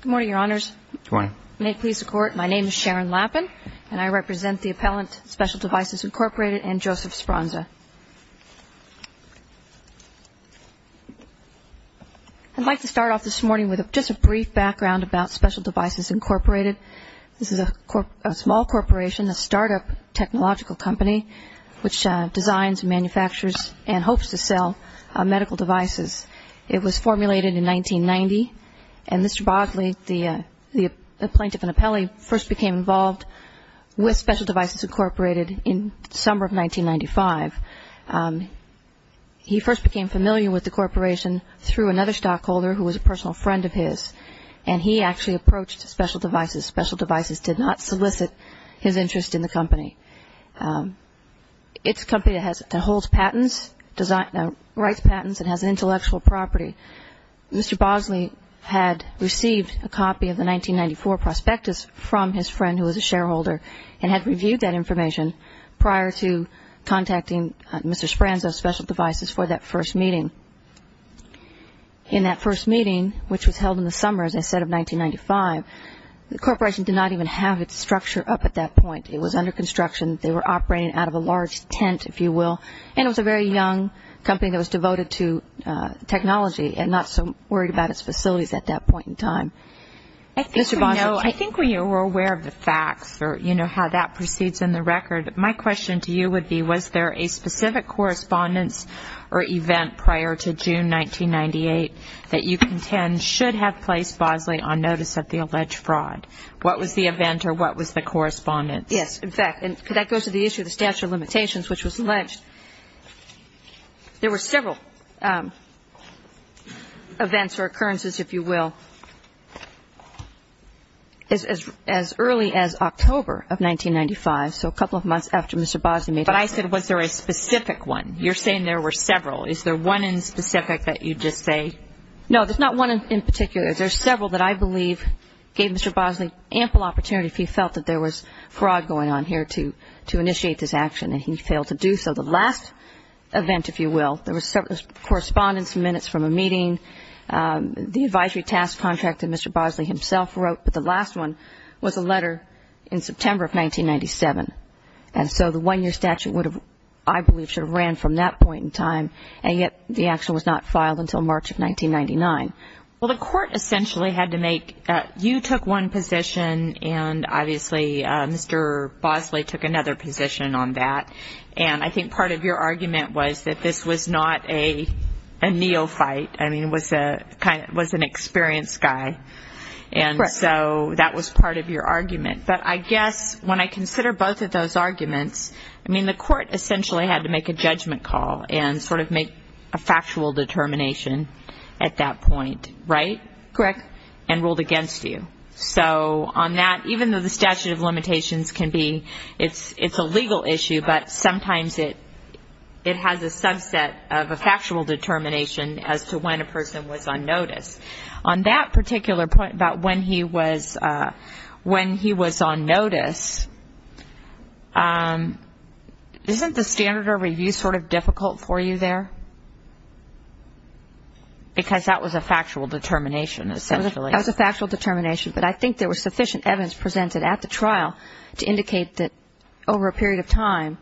Good morning, Your Honors. Good morning. May it please the Court, my name is Sharon Lappin, and I represent the appellant Special Devices, INC. and Joseph Sbronza. I'd like to start off this morning with just a brief background about Special Devices, INC. This is a small corporation, a startup technological company, which designs, manufactures, and hopes to sell medical devices. It was formulated in 1990, and Mr. Bogley, the plaintiff and appellee, first became involved with Special Devices, INC. in the summer of 1995. He first became familiar with the corporation through another stockholder who was a personal friend of his, and he actually approached Special Devices. Special Devices did not solicit his interest in the company. It's a company that holds patents, writes patents, and has intellectual property. Mr. Bogley had received a copy of the 1994 prospectus from his friend who was a shareholder and had reviewed that information prior to contacting Mr. Sbronza of Special Devices for that first meeting. In that first meeting, which was held in the summer, as I said, of 1995, the corporation did not even have its structure up at that point. It was under construction. They were operating out of a large tent, if you will, and it was a very young company that was devoted to technology and not so worried about its facilities at that point Mr. Bosley? I think we know, I think we were aware of the facts or, you know, how that proceeds in the record. My question to you would be, was there a specific correspondence or event prior to June 1998 that you contend should have placed Bosley on notice of the alleged fraud? What was the event or what was the correspondence? Yes. In fact, and that goes to the issue of the statute of limitations, which was alleged. There were several events or occurrences, if you will, as early as October of 1995, so a couple of months after Mr. Bosley made a statement. But I said, was there a specific one? You're saying there were several. Is there one in specific that you'd just say? No, there's not one in particular. There's several that I believe gave Mr. Bosley ample opportunity if he felt that there was fraud going on here to initiate this action, and he failed to do so. The last event, if you will, there was correspondence minutes from a meeting. The advisory task contract that Mr. Bosley himself wrote, but the last one was a letter in September of 1997. And so the one-year statute would have, I believe, should have ran from that point in time, and yet the action was not filed until March of 1999. Well, the court essentially had to make, you took one position, and obviously Mr. Bosley took another position on that, and I think part of your argument was that this was not a neophyte, I mean, it was an experienced guy, and so that was part of your argument. But I guess when I consider both of those arguments, I mean, the court essentially had to make a judgment call and sort of make a factual determination at that point, right? Correct. And ruled against you. So on that, even though the statute of limitations can be, it's a legal issue, but sometimes it has a subset of a factual determination as to when a person was on notice. On that particular point about when he was on notice, isn't the standard of review sort of difficult for you there? Because that was a factual determination, essentially. That was a factual determination, but I think there was sufficient evidence presented at the trial to indicate that over a period of time,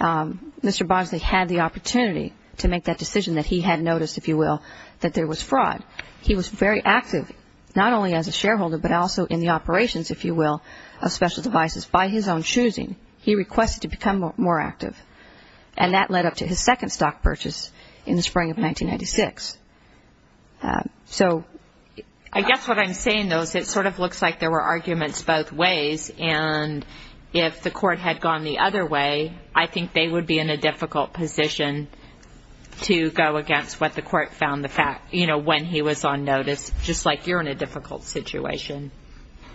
Mr. Bosley had the opportunity to make that decision that he had noticed, if you will, that there was fraud. He was very active, not only as a shareholder, but also in the operations, if you will, of special devices by his own choosing. He requested to become more active, and that led up to his second stock purchase in the spring of 1996. So I guess what I'm saying, though, is it sort of looks like there were arguments both ways, and if the court had gone the other way, I think they would be in a difficult position to go against what the court found the fact, you know, when he was on notice, just like you're in a difficult situation,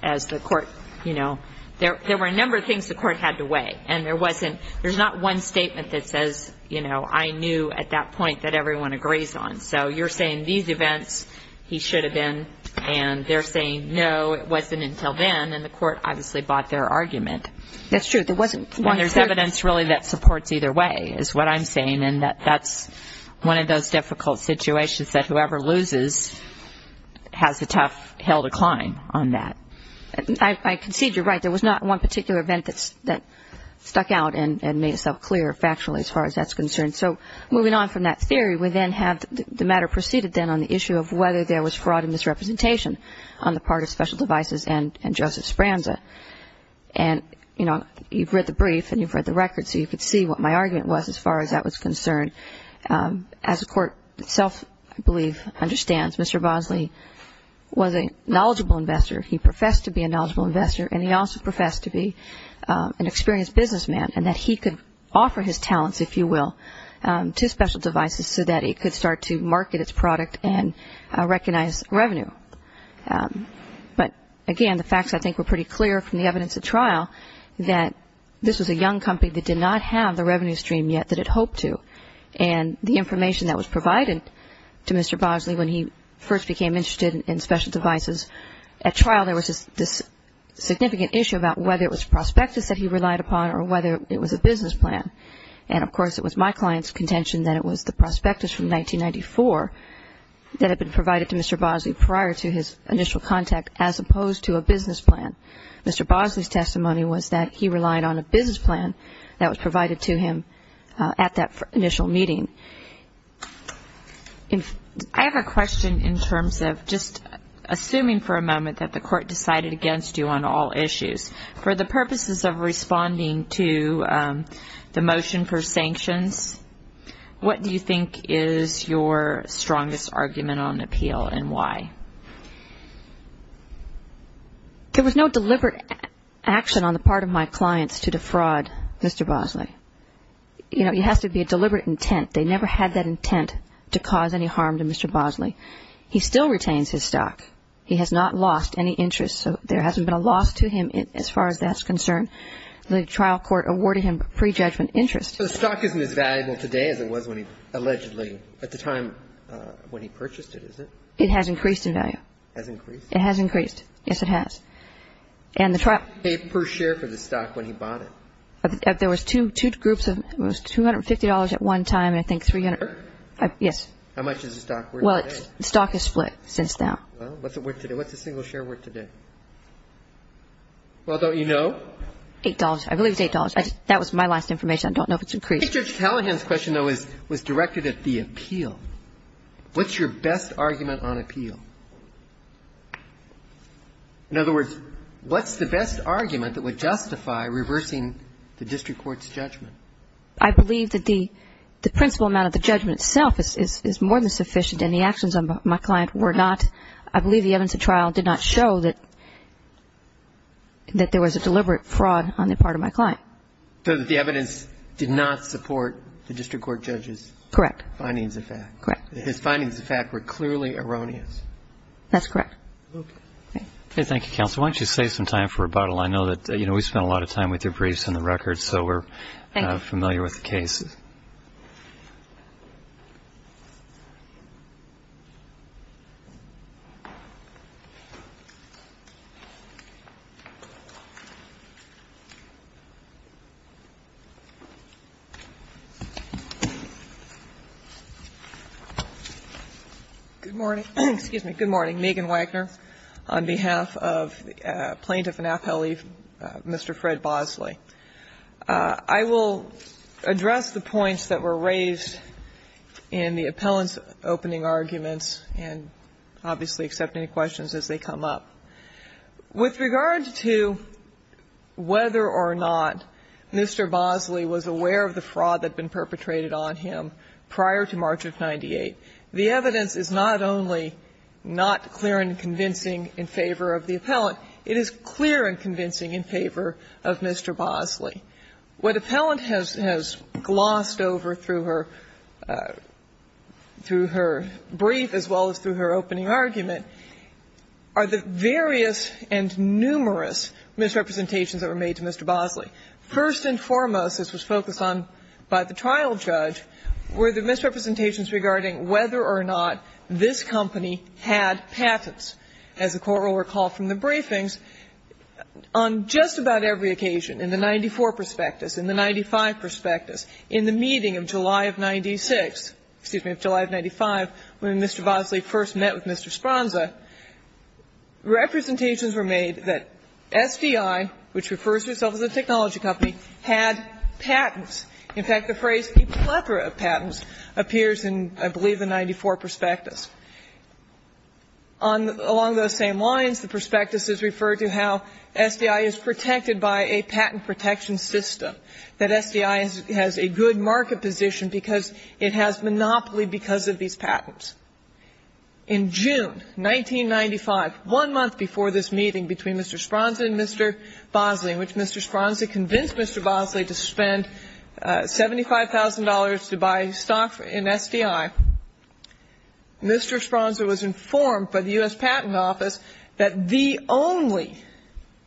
as the court, you know, there were a number of things the court had to weigh, and there wasn't, there's not one statement that says, you know, I knew at that point that everyone agrees on. So you're saying these events, he should have been, and they're saying, no, it wasn't until then, and the court obviously bought their argument. That's true. And there's evidence, really, that supports either way, is what I'm saying, and that's one of those difficult situations that whoever loses has a tough hill to climb on that. I concede you're right. There was not one particular event that stuck out and made itself clear factually, as far as that's concerned. So moving on from that theory, we then have the matter proceeded then on the issue of whether there was fraud and misrepresentation on the part of special devices and Joseph Branza. And, you know, you've read the brief and you've read the record, so you could see what my argument was as far as that was concerned. As the court itself, I believe, understands, Mr. Bosley was a knowledgeable investor. He professed to be a knowledgeable investor, and he also professed to be an experienced businessman and that he could offer his talents, if you will, to special devices so that he could start to market its product and recognize revenue. But, again, the facts, I think, were pretty clear from the evidence at trial that this was a young company that did not have the revenue stream yet that it hoped to. And the information that was provided to Mr. Bosley when he first became interested in special devices, at trial there was this significant issue about whether it was prospectus that he relied upon or whether it was a business plan. And of course, it was my client's contention that it was the prospectus from 1994 that had been provided to Mr. Bosley prior to his initial contact, as opposed to a business plan. Mr. Bosley's testimony was that he relied on a business plan that was provided to him at that initial meeting. I have a question in terms of just assuming for a moment that the court decided against you on all issues. For the purposes of responding to the motion for sanctions, what do you think is your strongest argument on appeal, and why? There was no deliberate action on the part of my clients to defraud Mr. Bosley. You know, it has to be a deliberate intent. They never had that intent to cause any harm to Mr. Bosley. He still retains his stock. He has not lost any interest, so there hasn't been a loss to him as far as that's concerned. The trial court awarded him pre-judgment interest. So the stock isn't as valuable today as it was allegedly at the time when he purchased it, is it? It has increased in value. It has increased? It has increased. Yes, it has. And the trial... How much did he pay per share for the stock when he bought it? There was two groups. It was $250 at one time, and I think $300... Per share? Yes. How much is the stock worth today? Well, the stock is split since then. Well, what's it worth today? What's a single share worth today? Well, don't you know? Eight dollars. I believe it's eight dollars. That was my last information. I don't know if it's increased. Judge Callahan's question, though, was directed at the appeal. What's your best argument on appeal? In other words, what's the best argument that would justify reversing the district court's judgment? I believe that the principal amount of the judgment itself is more than sufficient, and the actions of my client were not. I believe the evidence of trial did not show that there was a deliberate fraud on the part of my client. So that the evidence did not support the district court judge's... Correct. ...findings of fact. Correct. His findings of fact were clearly erroneous. That's correct. Okay. Okay. Thank you, counsel. Why don't you save some time for rebuttal? I know that, you know, we spent a lot of time with your briefs and the records, so we're... Thank you. ...familiar with the case. Good morning. Excuse me. Good morning. Megan Wagner on behalf of Plaintiff and appellee, Mr. Fred Bosley. I will address the points that were raised in the appellant's opening arguments and obviously accept any questions as they come up. Mr. Bosley was aware of the fraud that had been perpetrated on him prior to March of 1998. The evidence is not only not clear and convincing in favor of the appellant, it is clear and convincing in favor of Mr. Bosley. What appellant has glossed over through her brief as well as through her opening argument are the various and numerous misrepresentations that were made to Mr. Bosley. First and foremost, as was focused on by the trial judge, were the misrepresentations regarding whether or not this company had patents. As the Court will recall from the briefings, on just about every occasion, in the 94 prospectus, in the 95 prospectus, in the meeting of July of 96, excuse me, of July of 95, when Mr. Bosley first met with Mr. Sponza, representations were made that SDI, which refers to itself as a technology company, had patents. In fact, the phrase, a plethora of patents, appears in, I believe, the 94 prospectus. Along those same lines, the prospectus is referred to how SDI is protected by a patent protection system, that SDI has a good market position because it has monopoly because of these patents. In June 1995, one month before this meeting between Mr. Sponza and Mr. Bosley, in which Mr. Sponza convinced Mr. Bosley to spend $75,000 to buy stock in SDI, Mr. Sponza was informed by the U.S. Patent Office that the only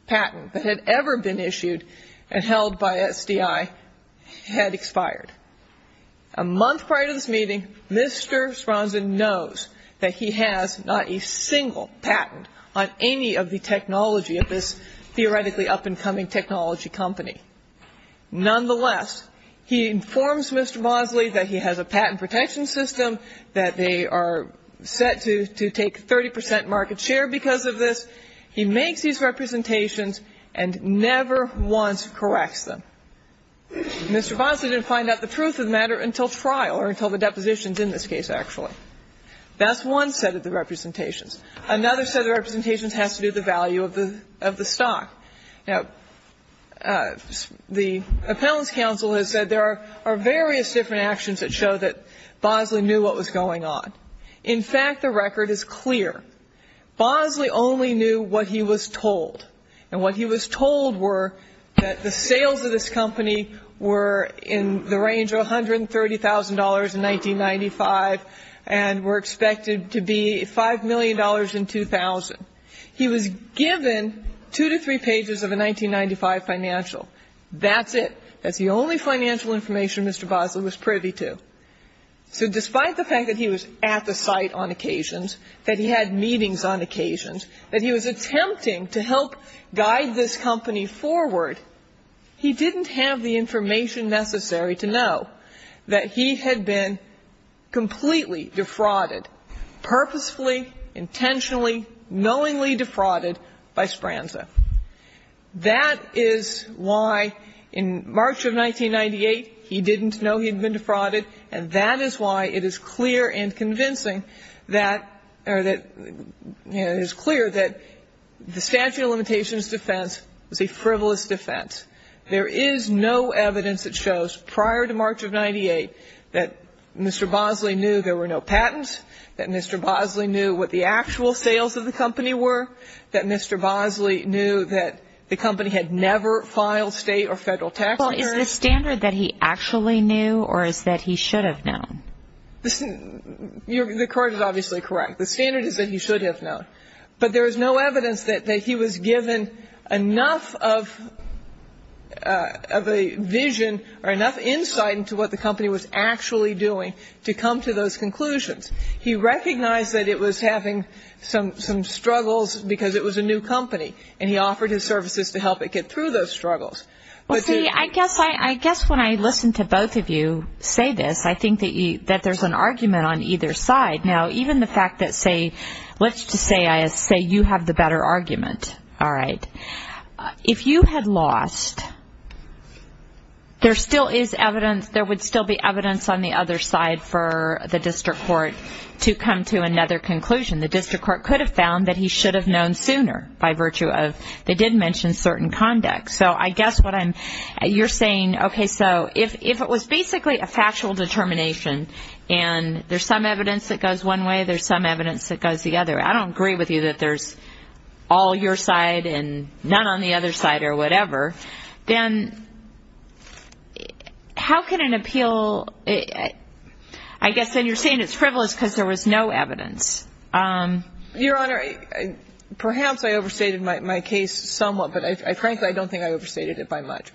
patent that had ever been issued and held by SDI had expired. A month prior to this meeting, Mr. Sponza knows that he has not a single patent on any of the technology of this theoretically up-and-coming technology company. Nonetheless, he informs Mr. Bosley that he has a patent protection system, that they are set to take 30 percent market share because of this. He makes these representations and never once corrects them. Mr. Bosley didn't find out the truth of the matter until trial, or until the depositions in this case, actually. That's one set of the representations. Another set of representations has to do with the value of the stock. Now, the Appellants Council has said there are various different actions that show that Bosley knew what was going on. In fact, the record is clear. Bosley only knew what he was told. And what he was told were that the sales of this company were in the range of $130,000 in 1995 and were expected to be $5 million in 2000. He was given two to three pages of a 1995 financial. That's it. That's the only financial information Mr. Bosley was privy to. So despite the fact that he was at the site on occasions, that he had meetings on occasions, that he was attempting to help guide this company forward, he didn't have the information necessary to know that he had been completely defrauded, purposefully, intentionally, knowingly defrauded by Sbranza. That is why in March of 1998 he didn't know he had been defrauded, and that is why it is clear and convincing that, or that, you know, it is clear that the statute of limitations defense was a frivolous defense. There is no evidence that shows, prior to March of 1998, that Mr. Bosley knew there were no patents, that Mr. Bosley knew what the actual sales of the company were, that Mr. Bosley knew that the company had never filed state or federal tax returns. Well, is the standard that he actually knew, or is that he should have known? Listen, the court is obviously correct. The standard is that he should have known. But there is no evidence that he was given enough of a vision or enough insight into what the company was actually doing to come to those conclusions. He recognized that it was having some struggles because it was a new company, and he offered his services to help it get through those struggles. Well, see, I guess when I listen to both of you say this, I think that there is an argument on either side. Now, even the fact that, say, let's just say you have the better argument, all right. If you had lost, there still is evidence, there would still be evidence on the other side for the district court to come to another conclusion. The district court could have found that he should have known sooner by virtue of, they did mention certain conduct. So I guess what I'm, you're saying, okay, so if it was basically a factual determination, and there's some evidence that goes one way, there's some evidence that goes the other. I don't agree with you that there's all your side and none on the other side or whatever. Then how can an appeal, I guess, and you're saying it's frivolous because there was no evidence. Your Honor, perhaps I overstated my case somewhat, but frankly, I don't think I overstated it by much.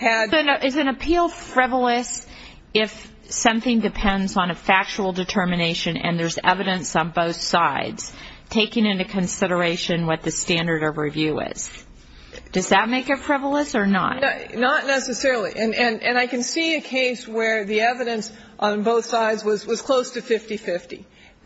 So no, is an appeal frivolous if something depends on a factual determination and there's evidence on both sides, taking into consideration what the standard of review is? Does that make it frivolous or not? Not necessarily, and I can see a case where the evidence on both sides was close to 50-50,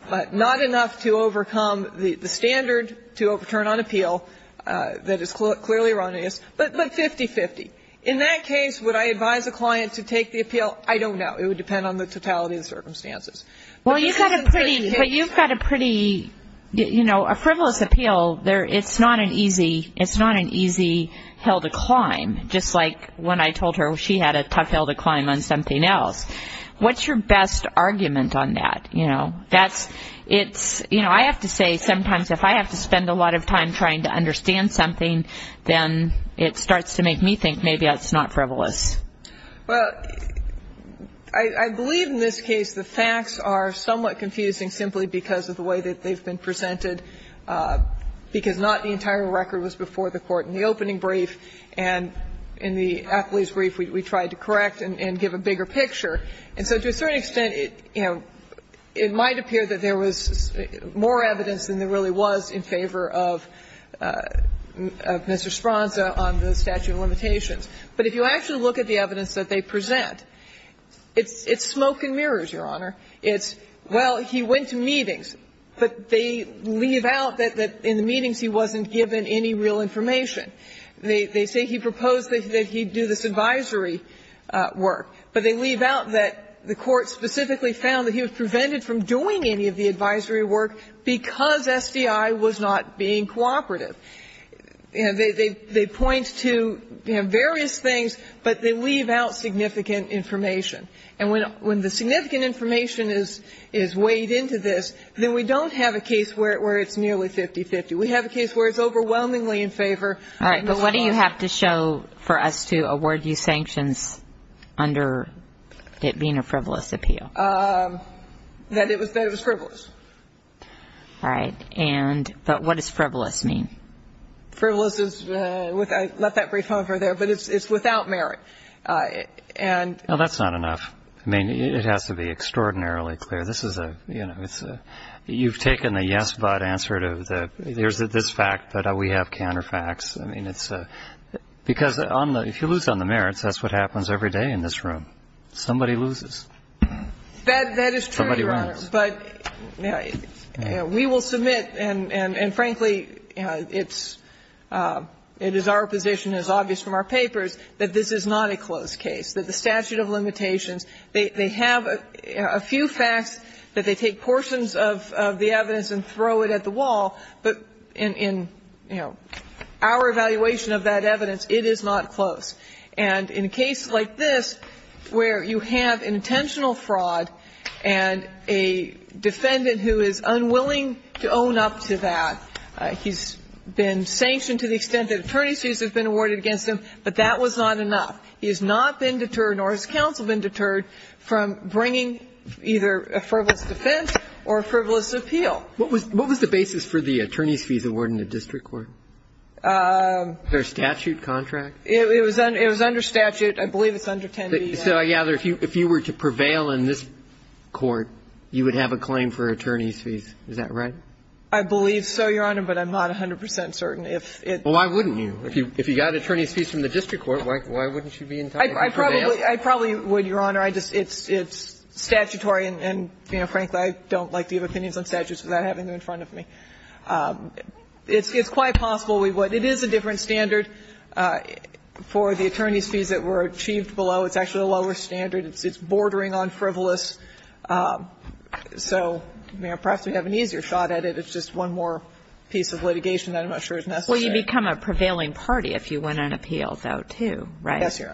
but not enough to overcome the standard to overturn on appeal that is clearly erroneous, but 50-50. In that case, would I advise a client to take the appeal? I don't know. It would depend on the totality of the circumstances. Well, you've got a pretty, you know, a frivolous appeal. It's not an easy hill to climb, just like when I told her she had a tough hill to climb on something else. What's your best argument on that? You know, that's, it's, you know, I have to say sometimes if I have to spend a lot of time trying to understand something, then it starts to make me think maybe that's not frivolous. Well, I believe in this case the facts are somewhat confusing simply because of the way that they've been presented, because not the entire record was before the court in the opening brief, and in the athlete's brief we tried to correct and give a bigger picture. And so to a certain extent, you know, it might appear that there was more evidence than there really was in favor of Mr. Spronza on the statute of limitations. But if you actually look at the evidence that they present, it's smoke and mirrors, Your Honor. It's, well, he went to meetings, but they leave out that in the meetings he wasn't given any real information. They say he proposed that he do this advisory work, but they leave out that the court specifically found that he was prevented from doing any of the advisory work because SDI was not being cooperative. They point to, you know, various things, but they leave out significant information. And when the significant information is weighed into this, then we don't have a case where it's nearly 50-50. We have a case where it's overwhelmingly in favor. All right. But what do you have to show for us to award you sanctions under it being a frivolous appeal? That it was frivolous. All right. But what does frivolous mean? Frivolous is, I left that brief over there, but it's without merit. Well, that's not enough. I mean, it has to be extraordinarily clear. This is a, you know, it's a, you've taken the yes, but answer to the, there's this fact that we have counterfacts. I mean, it's a, because on the, if you lose on the merits, that's what happens every day in this room. Somebody loses. That is true, Your Honors. Somebody wins. But we will submit, and frankly, it's, it is our position, it is obvious from our papers, that this is not a closed case, that the statute of limitations, they have a few facts that they take portions of the evidence and throw it at the wall, but in, you know, our evaluation of that evidence, it is not closed. And in a case like this where you have intentional fraud and a defendant who is unwilling to own up to that, he's been sanctioned to the extent that attorney's fees have been awarded against him, but that was not enough. He has not been deterred, nor has counsel been deterred, from bringing either a frivolous defense or a frivolous appeal. What was the basis for the attorney's fees award in the district court? Is there a statute, contract? It was under statute. I believe it's under 10B. So I gather if you were to prevail in this court, you would have a claim for attorney's fees, is that right? I believe so, Your Honor, but I'm not 100 percent certain. If it's the case. Well, why wouldn't you? If you got attorney's fees from the district court, why wouldn't you be entitled to prevail? I probably would, Your Honor. It's statutory, and, you know, frankly, I don't like to give opinions on statutes without having them in front of me. It's quite possible we would. It is a different standard for the attorney's fees that were achieved below. It's actually a lower standard. It's bordering on frivolous. So, perhaps we have an easier shot at it. It's just one more piece of litigation that I'm not sure is necessary. Well, you become a prevailing party if you win an appeal, though, too, right? Yes, Your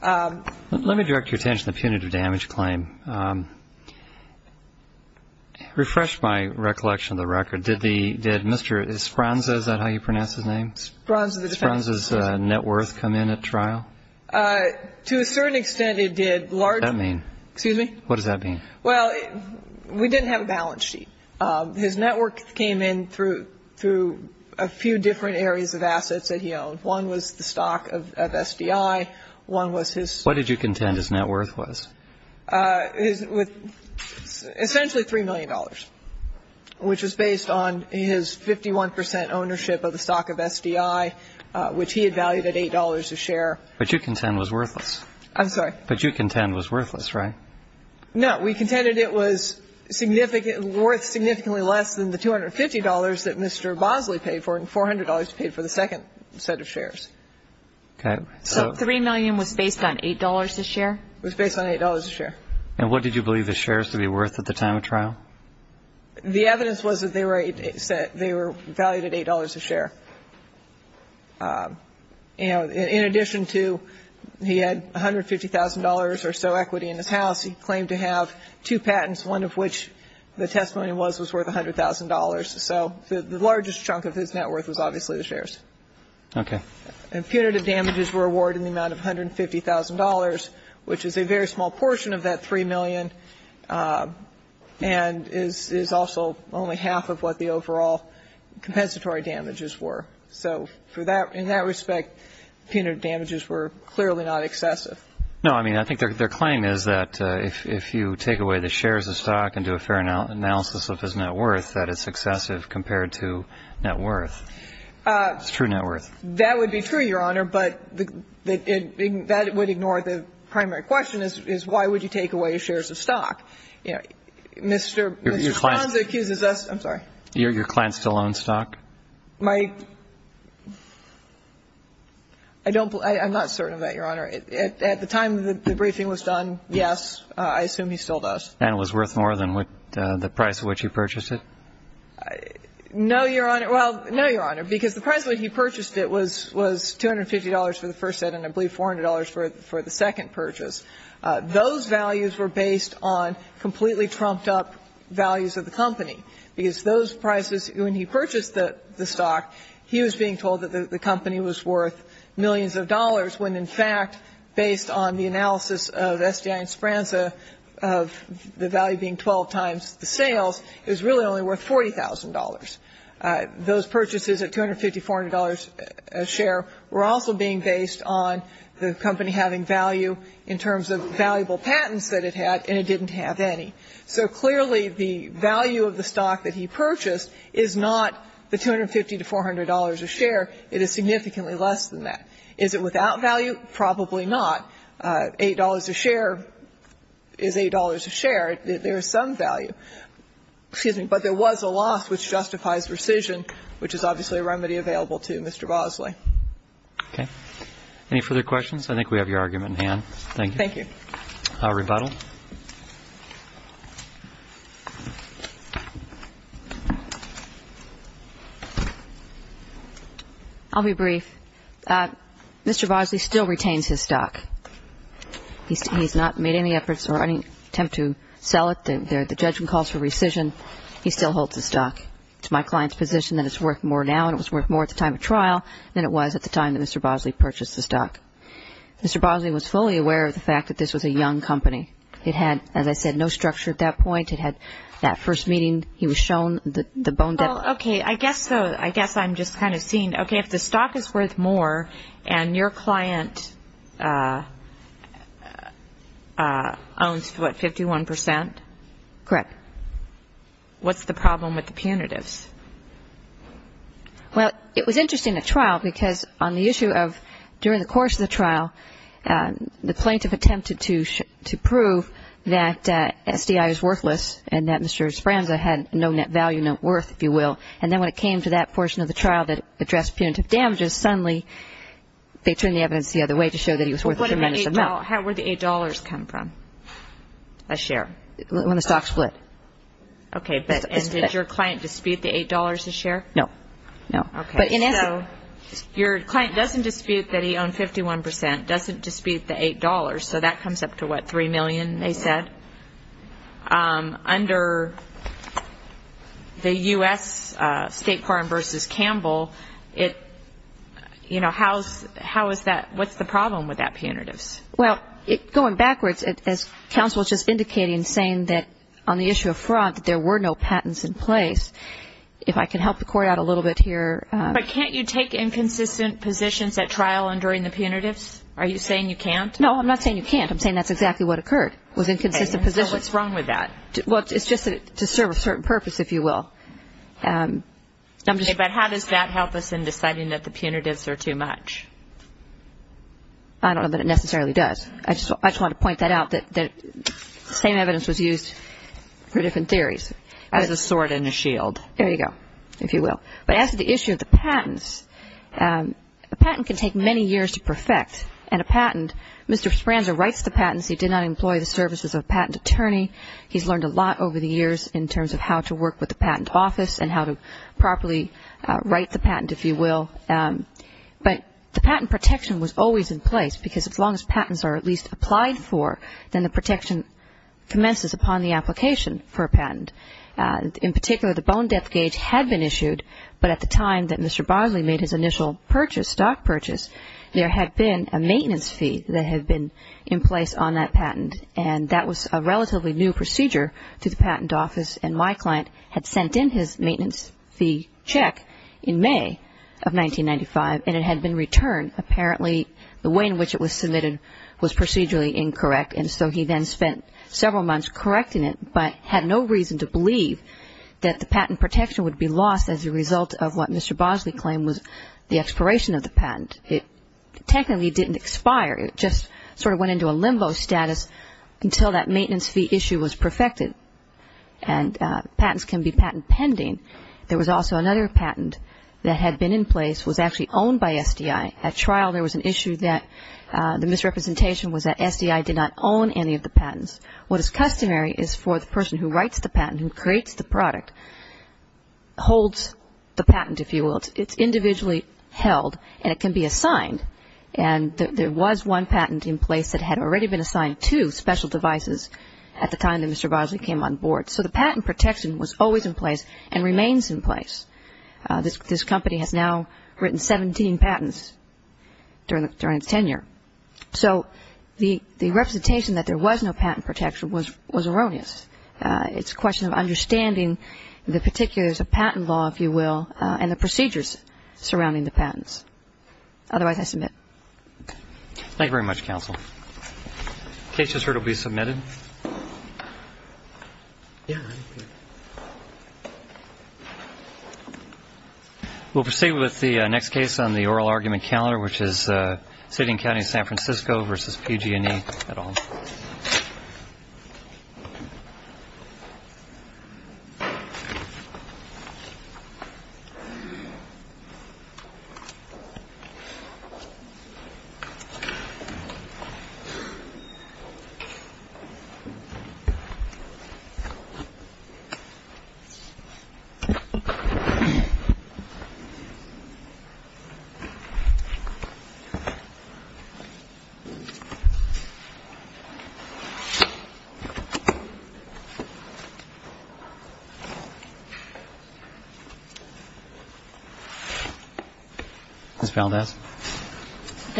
Honor. Let me direct your attention to the punitive damage claim. Refresh my recollection of the record. Did Mr. Spronza, is that how you pronounce his name? Spronza, the defendant. Did Spronza's net worth come in at trial? To a certain extent, it did. What does that mean? Excuse me? What does that mean? Well, we didn't have a balance sheet. His net worth came in through a few different areas of assets that he owned. One was the stock of SDI. One was his. What did you contend his net worth was? Essentially $3 million, which was based on his 51 percent ownership of the stock of SDI, which he had valued at $8 a share. But you contend was worthless. I'm sorry? But you contend was worthless, right? No. We contended it was worth significantly less than the $250 that Mr. Bosley paid for and $400 he paid for the second set of shares. Okay. So $3 million was based on $8 a share? It was based on $8 a share. And what did you believe the shares to be worth at the time of trial? The evidence was that they were valued at $8 a share. In addition to he had $150,000 or so equity in his house, he claimed to have two patents, one of which the testimony was was worth $100,000. So the largest chunk of his net worth was obviously the shares. Okay. And punitive damages were awarded in the amount of $150,000, which is a very small portion of that $3 million and is also only half of what the overall compensatory damages were. So in that respect, punitive damages were clearly not excessive. No, I mean, I think their claim is that if you take away the shares of stock and do a fair analysis of his net worth, that it's excessive compared to net worth. It's true net worth. That would be true, Your Honor, but that would ignore the primary question is why would you take away shares of stock? You know, Mr. Sponza accuses us. I'm sorry. Your client still owns stock? My – I don't – I'm not certain of that, Your Honor. At the time the briefing was done, yes, I assume he still does. And it was worth more than the price at which he purchased it? No, Your Honor. Well, no, Your Honor, because the price at which he purchased it was $250 for the first set and I believe $400 for the second purchase. Those values were based on completely trumped-up values of the company, because those prices, when he purchased the stock, he was being told that the company was worth millions of dollars, when in fact, based on the analysis of SGI and Sponza of the value being 12 times the sales, it was really only worth $40,000. Those purchases at $250, $400 a share were also being based on the company having value in terms of valuable patents that it had and it didn't have any. So clearly the value of the stock that he purchased is not the $250 to $400 a share. It is significantly less than that. Is it without value? Probably not. $8 a share is $8 a share. There is some value. Excuse me. But there was a loss which justifies rescission, which is obviously a remedy available to Mr. Bosley. Okay. Any further questions? I think we have your argument in hand. Thank you. Rebuttal. I'll be brief. Mr. Bosley still retains his stock. He's not made any efforts or any attempt to sell it. The judgment calls for rescission. He still holds his stock. It's my client's position that it's worth more now and it was worth more at the time of trial than it was at the time that Mr. Bosley purchased the stock. Mr. Bosley was fully aware of the fact that this was a young company. It had, as I said, no structure at that point. It had that first meeting, he was shown the bone depth. Okay. I guess I'm just kind of seeing. Okay, if the stock is worth more and your client owns, what, 51%? Correct. What's the problem with the punitives? Well, it was interesting at trial because on the issue of during the course of the trial, the plaintiff attempted to prove that SDI is worthless and that Mr. Speranza had no net value, no worth, if you will. And then when it came to that portion of the trial that addressed punitive damages, suddenly they turned the evidence the other way to show that he was worth a tremendous amount. How would the $8 come from? A share. When the stock split. Okay. And did your client dispute the $8 a share? No. No. Okay. So your client doesn't dispute that he owned 51%, doesn't dispute the $8, so that comes up to, what, $3 million, they said. But under the U.S. State Court versus Campbell, it, you know, how is that, what's the problem with that punitives? Well, going backwards, as counsel was just indicating, saying that on the issue of fraud that there were no patents in place, if I can help the court out a little bit here. But can't you take inconsistent positions at trial and during the punitives? Are you saying you can't? No, I'm not saying you can't. I'm saying that's exactly what occurred was inconsistent positions. So what's wrong with that? Well, it's just to serve a certain purpose, if you will. Okay. But how does that help us in deciding that the punitives are too much? I don't know that it necessarily does. I just wanted to point that out, that the same evidence was used for different theories. There's a sword and a shield. There you go, if you will. But as to the issue of the patents, a patent can take many years to perfect, and a patent, Mr. Sbranza writes the patents. He did not employ the services of a patent attorney. He's learned a lot over the years in terms of how to work with the patent office and how to properly write the patent, if you will. But the patent protection was always in place, because as long as patents are at least applied for, then the protection commences upon the application for a patent. In particular, the bone depth gauge had been issued, but at the time that Mr. Bogley made his initial purchase, stock purchase, there had been a maintenance fee that had been in place on that patent, and that was a relatively new procedure to the patent office, and my client had sent in his maintenance fee check in May of 1995, and it had been returned. Apparently, the way in which it was submitted was procedurally incorrect, and so he then spent several months correcting it, but had no reason to believe that the patent protection would be lost as a result of what Mr. Bogley claimed was the expiration of the patent. It technically didn't expire. It just sort of went into a limbo status until that maintenance fee issue was perfected, and patents can be patent pending. There was also another patent that had been in place, was actually owned by SDI. At trial, there was an issue that the misrepresentation was that SDI did not own any of the patents. What is customary is for the person who writes the patent, who creates the product, holds the patent, if you will. It's individually held, and it can be assigned, and there was one patent in place that had already been assigned to special devices at the time that Mr. Bogley came on board. So the patent protection was always in place and remains in place. This company has now written 17 patents during its tenure. So the representation that there was no patent protection was erroneous. It's a question of understanding the particulars of patent law, if you will, and the procedures surrounding the patents. Otherwise, I submit. Thank you very much, counsel. Case just heard will be submitted. We'll proceed with the next case on the oral argument calendar, which is City and County of San Francisco versus PG&E. Ms. Valdez.